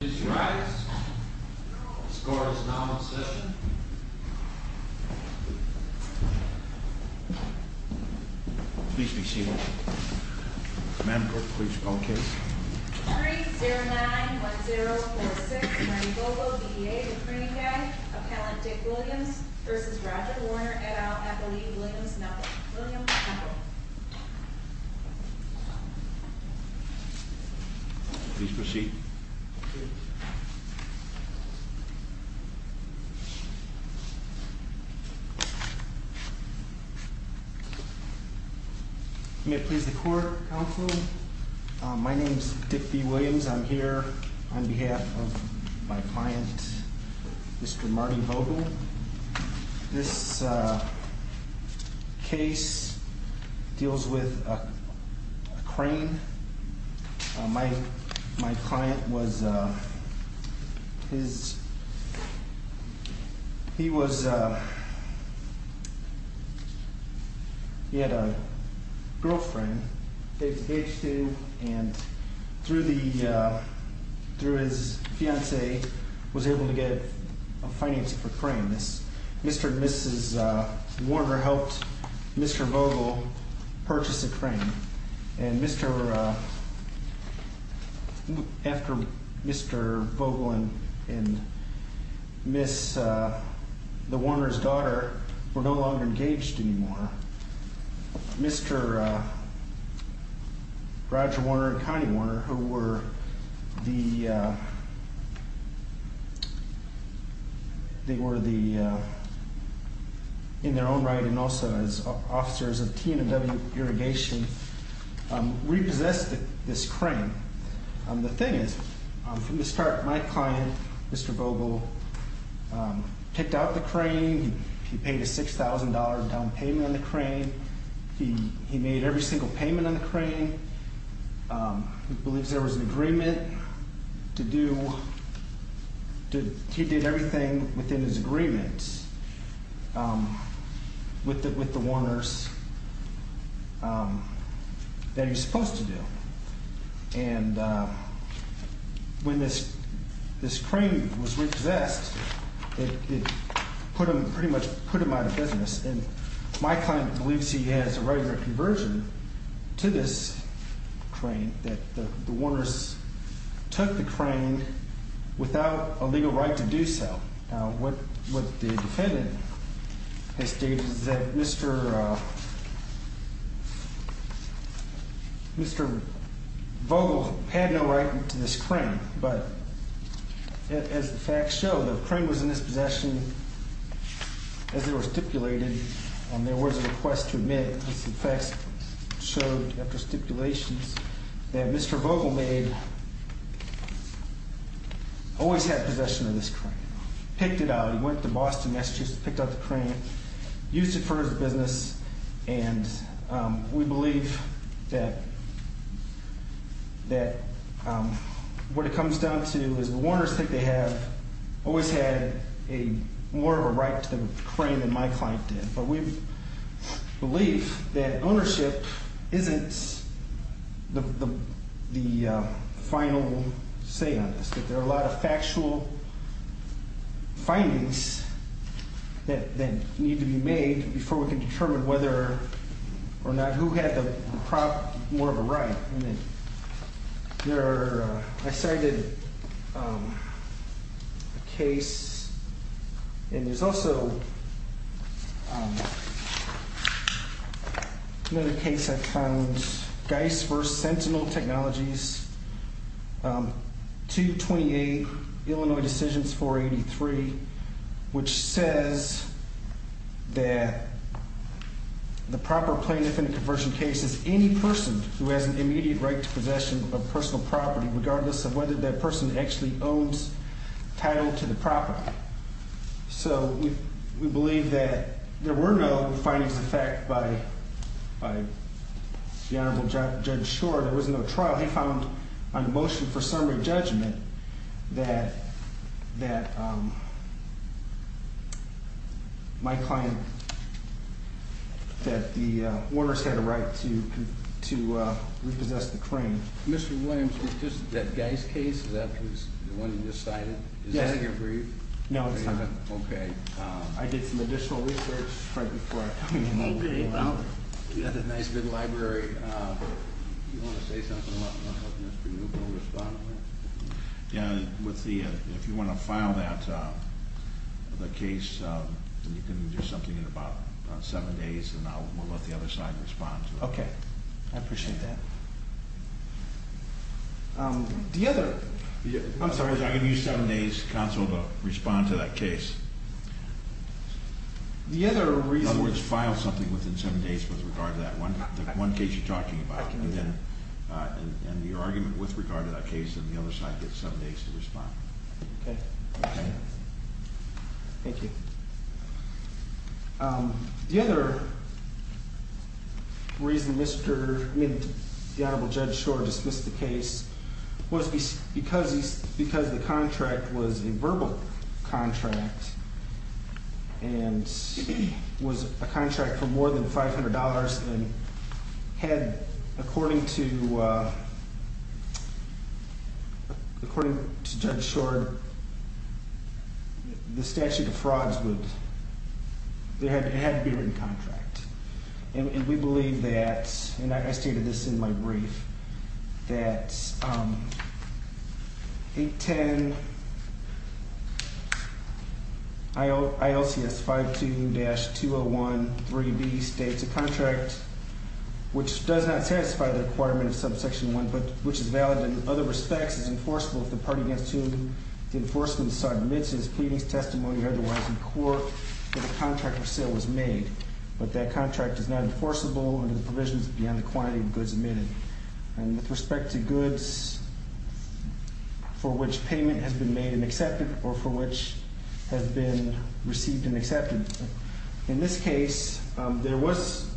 Please rise. The score is now in session. Please be seated. Madam Clerk, will you spell the case? 3-0-9-1-0-4-6, Randy Vogel, D.D.A., Duprene-Gay, Appellant Dick Williams v. Roger Warner, et al., Appellee Williams-Metcalf. Williams-Metcalf. Please proceed. Thank you. May it please the Court, Counsel? My name's Dick B. Williams. I'm here on behalf of my client, Mr. Marty Vogel. This case deals with a crane. My client was, he was, he had a girlfriend, aged two, and through his fiancée, was able to get a financing for a crane. Mr. and Mrs. Warner helped Mr. Vogel purchase a crane. And Mr., after Mr. Vogel and Miss, the Warner's daughter were no longer engaged anymore, Mr. Roger Warner and Connie Warner, who were the, they were the, in their own right and also as officers of T&W Irrigation, repossessed this crane. The thing is, from the start, my client, Mr. Vogel, picked out the crane. He paid a $6,000 down payment on the crane. He made every single payment on the crane. He believes there was an agreement to do, he did everything within his agreement with the Warners that he was supposed to do. And when this crane was repossessed, it pretty much put him out of business. And my client believes he has a regular conversion to this crane, that the Warners took the crane without a legal right to do so. Now, what the defendant has stated is that Mr. Vogel had no right to this crane. But as the facts show, the crane was in his possession as they were stipulated. There was a request to admit, as the facts showed after stipulations, that Mr. Vogel made, always had possession of this crane. Picked it out. He went to Boston, Massachusetts, picked out the crane, used it for his business. And we believe that what it comes down to is the Warners think they have always had more of a right to the crane than my client did. But we believe that ownership isn't the final say on this, that there are a lot of factual findings that need to be made before we can determine whether or not who had more of a right. I cited a case, and there's also another case I found, Geis v. Sentinel Technologies, 228 Illinois Decisions 483, which says that the proper plaintiff in a conversion case is any person who has an immediate right to possession of personal property, regardless of whether that person actually owns title to the property. So we believe that there were no findings of fact by the Honorable Judge Shore. There was no trial. He found on the motion for summary judgment that my client, that the Warners had a right to repossess the crane. Mr. Williams, was this that Geis case, the one you just cited? Yes. Is that again for you? No, it's not. Okay. I did some additional research right before I told you I'm going to rule it out. You have a nice big library. Do you want to say something about what Mr. Newbell responded to? Yeah. If you want to file that case, you can do something in about seven days, and I'll let the other side respond to it. Okay. I appreciate that. The other... I'm sorry. I can use seven days counsel to respond to that case. The other reason... In other words, file something within seven days with regard to that one case you're talking about, and your argument with regard to that case and the other side get seven days to respond. Okay. Okay? Thank you. The other reason Mr. Midd, the Honorable Judge Schor dismissed the case was because the contract was a verbal contract and was a contract for more than $500 and had, according to Judge Schor, the statute of frauds would... It had to be a written contract. And we believe that, and I stated this in my brief, that 810 ILCS 52-2013B states a contract which does not satisfy the requirement of subsection 1 but which is valid in other respects as enforceable if the party against whom the enforcement submits its pleadings, testimony, or otherwise in court that a contract for sale was made. But that contract is not enforceable under the provisions beyond the quantity of goods emitted. And with respect to goods for which payment has been made and accepted or for which has been received and accepted, in this case, there was...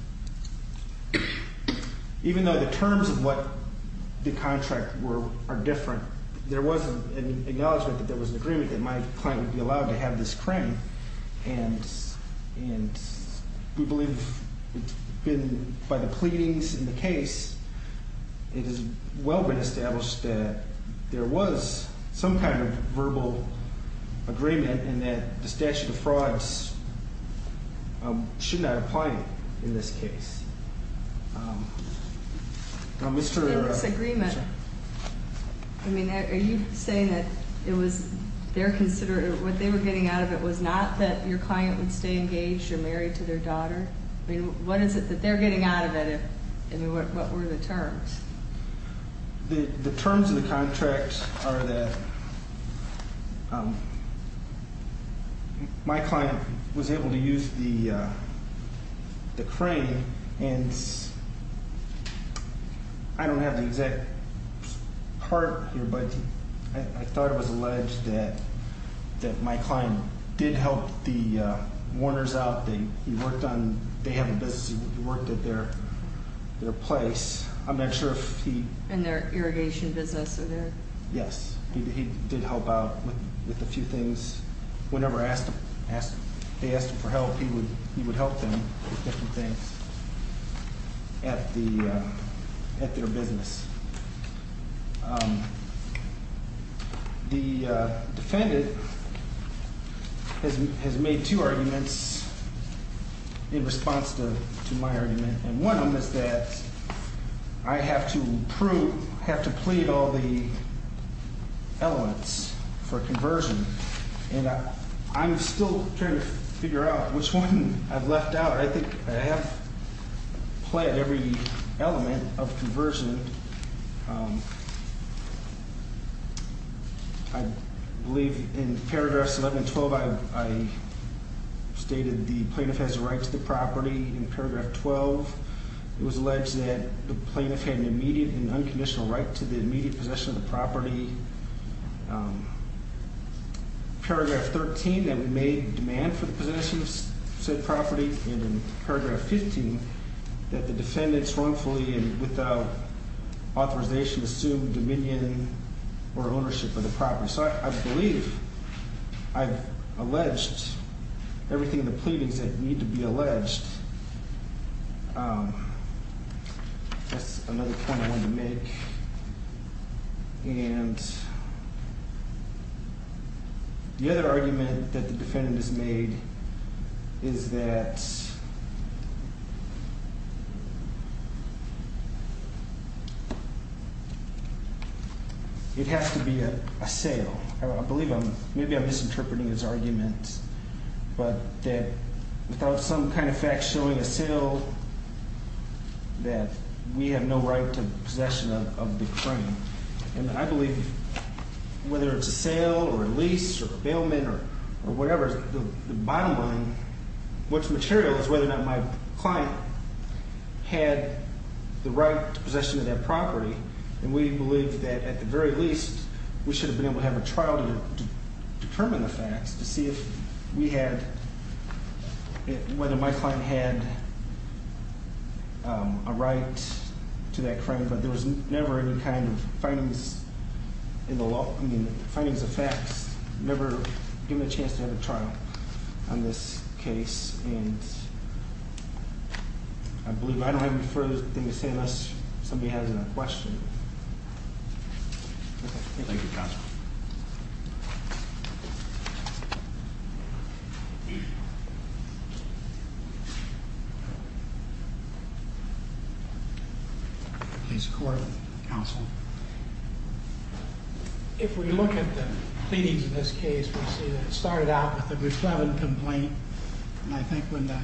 Even though the terms of what the contract were are different, there was an acknowledgment that there was an agreement that my client would be allowed to have this crane. And we believe, by the pleadings in the case, it has well been established that there was some kind of verbal agreement and that the statute of frauds should not apply in this case. Now, Mr... In this agreement, I mean, are you saying that what they were getting out of it was not that your client would stay engaged or married to their daughter? I mean, what is it that they're getting out of it? I mean, what were the terms? The terms of the contract are that my client was able to use the crane and I don't have the exact part here, but I thought it was alleged that my client did help the warners out. He worked on... They have a business. He worked at their place. I'm not sure if he... In their irrigation business or their... Yes. He did help out with a few things. Whenever they asked him for help, he would help them with different things at their business. The defendant has made two arguments in response to my argument, and one of them is that I have to prove... I have to plead all the elements for conversion, and I'm still trying to figure out which one I've left out. I think I have pled every element of conversion. I believe in paragraphs 11 and 12, I stated the plaintiff has a right to the property in paragraph 12. It was alleged that the plaintiff had an immediate and unconditional right to the immediate possession of the property. Paragraph 13, that we made demand for the possession of said property, and in paragraph 15, that the defendants wrongfully and without authorization assumed dominion or ownership of the property. So I believe I've alleged everything in the pleadings that need to be alleged. That's another point I wanted to make. And the other argument that the defendant has made is that it has to be a sale. I believe I'm... maybe I'm misinterpreting his argument, but that without some kind of fact showing a sale, that we have no right to possession of the crime. And I believe whether it's a sale or a lease or a bailment or whatever, the bottom line, what's material is whether or not my client had the right to possession of that property, and we believe that at the very least, we should have been able to have a trial to determine the facts to see if we had... whether my client had a right to that crime, but there was never any kind of findings in the law. I mean, the findings of facts never give me a chance to have a trial on this case, and I believe I don't have anything further to say unless somebody has a question. Thank you. Thank you, counsel. Please record, counsel. If we look at the pleadings of this case, we see that it started out with a good, clever complaint, and I think when the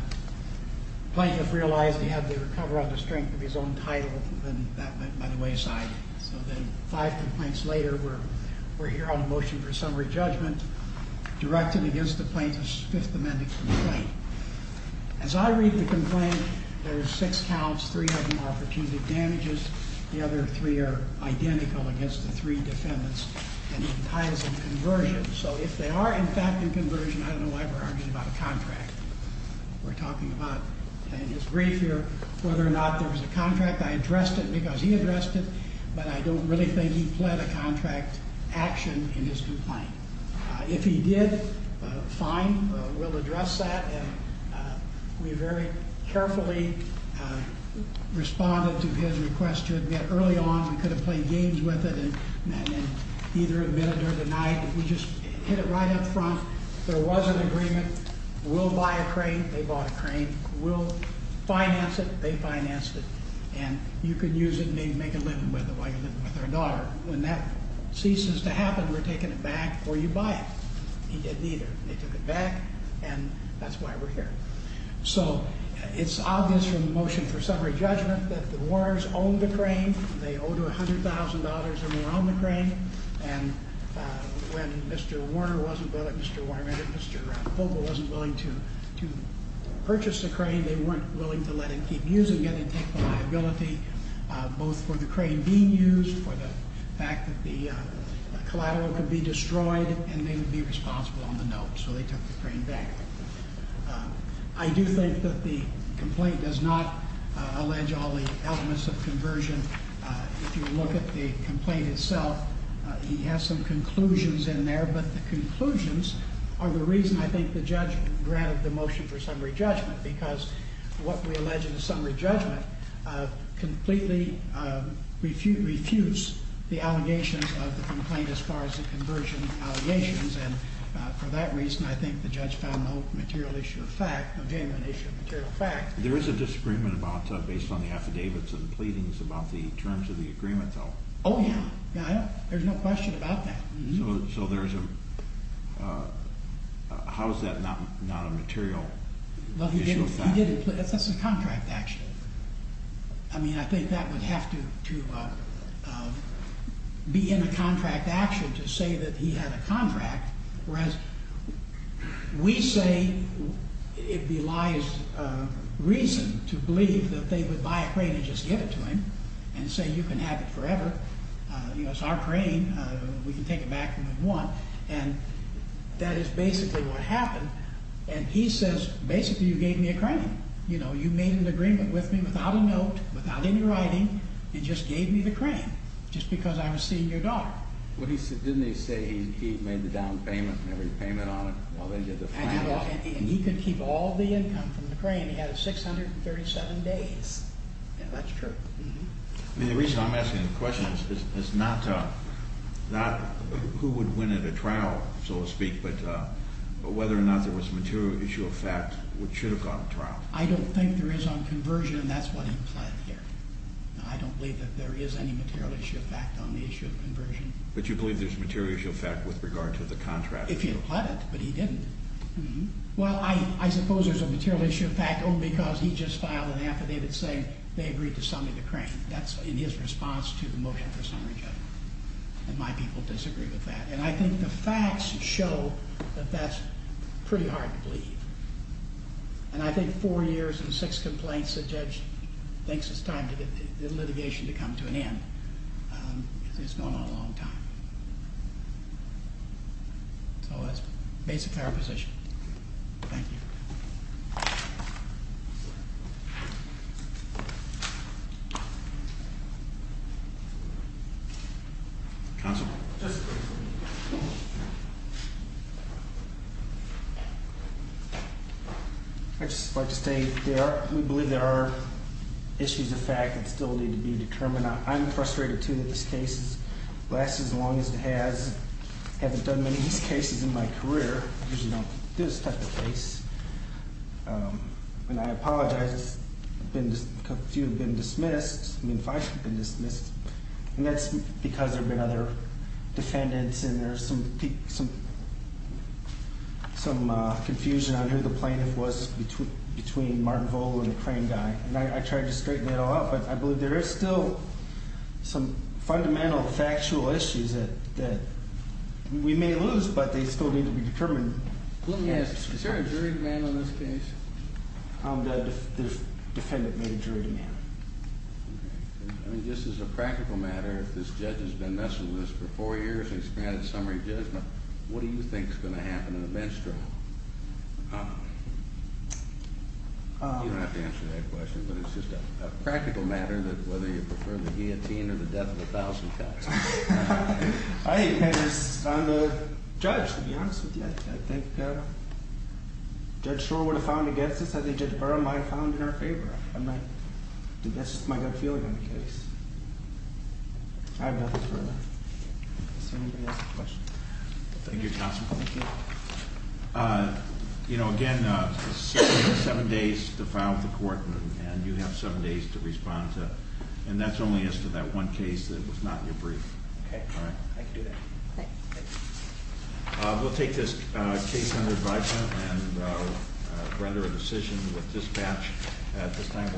plaintiff realized he had to recover up the strength of his own title, then that went by the wayside. So then five complaints later, we're here on a motion for summary judgment directed against the plaintiff's Fifth Amendment complaint. As I read the complaint, there's six counts, three have been opportune advantages, the other three are identical against the three defendants, and it ties in conversion. So if they are in fact in conversion, I don't know why we're arguing about a contract. We're talking about, and it's brief here, whether or not there was a contract. I addressed it because he addressed it, but I don't really think he pled a contract action in his complaint. If he did, fine, we'll address that. We very carefully responded to his request to admit early on. We could have played games with it and either admitted or denied. We just hit it right up front. There was an agreement. We'll buy a crane. They bought a crane. We'll finance it. They financed it, and you can use it and maybe make a living with it while you're living with our daughter. When that ceases to happen, we're taking it back, or you buy it. He didn't either. They took it back, and that's why we're here. So it's obvious from the motion for summary judgment that the Warners owned the crane. They owed $100,000, and they owned the crane. And when Mr. Warner wasn't willing, Mr. Warner, Mr. Fogle wasn't willing to purchase the crane, they weren't willing to let him keep using it. They took the liability both for the crane being used, for the fact that the collateral could be destroyed, and they would be responsible on the note. So they took the crane back. I do think that the complaint does not allege all the elements of conversion. If you look at the complaint itself, he has some conclusions in there, but the conclusions are the reason I think the judge granted the motion for summary judgment, because what we allege in the summary judgment completely refutes the allegations of the complaint as far as the conversion allegations, and for that reason I think the judge found no material issue of fact, no genuine issue of material fact. There is a disagreement based on the affidavits and pleadings about the terms of the agreement, though. Oh, yeah. There's no question about that. So there's a... How is that not a material issue of fact? Well, he didn't... That's a contract action. I mean, I think that would have to be in a contract action to say that he had a contract, whereas we say it belies reason to believe that they would buy a crane and just give it to him and say you can have it forever. You know, it's our crane. We can take it back if we want, and that is basically what happened, and he says basically you gave me a crane. You know, you made an agreement with me without a note, without any writing, and just gave me the crane just because I was seeing your daughter. Didn't he say he made the down payment and every payment on it? And he could keep all the income from the crane. He had it 637 days. Yeah, that's true. I mean, the reason I'm asking the question is not who would win at a trial, so to speak, but whether or not there was a material issue of fact which should have gone to trial. I don't think there is on conversion, and that's what he pled here. I don't believe that there is any material issue of fact on the issue of conversion. But you believe there's a material issue of fact with regard to the contract? If he had pled it, but he didn't. Well, I suppose there's a material issue of fact only because he just filed an affidavit saying they agreed to summon the crane. That's in his response to the motion for summary judgment. And my people disagree with that. And I think the facts show that that's pretty hard to believe. And I think four years and six complaints, the judge thinks it's time for the litigation to come to an end because it's going on a long time. So that's basically our position. Thank you. Counsel. I'd just like to state we believe there are issues of fact that still need to be determined. I'm frustrated, too, that this case has lasted as long as it has. I haven't done many of these cases in my career. I usually don't do this type of case. And I apologize. A few have been dismissed. I mean, five have been dismissed. And that's because there have been other defendants and there's some confusion on who the plaintiff was between Martin Vole and the crane guy. And I tried to straighten it all out, but I believe there is still some fundamental factual issues that we may lose, but they still need to be determined. Yes. Is there a jury demand on this case? The defendant made a jury demand. Okay. I mean, just as a practical matter, if this judge has been messing with this for four years and he's granted summary judgment, what do you think is going to happen in a bench trial? You don't have to answer that question, but it's just a practical matter that whether you prefer the guillotine or the death of a thousand cocks. I'm a judge, to be honest with you. I think Judge Schor would have found it against us. I think Judge Barrow might have found it in our favor. I mean, that's just my gut feeling on the case. I have nothing further. Does anybody else have a question? Thank you, counsel. Thank you. You know, again, seven days to file with the court, and you have seven days to respond to it. And that's only as to that one case that was not in your brief. Okay. All right. I can do that. Thanks. We'll take this case under advisement and render a decision with dispatch at this time.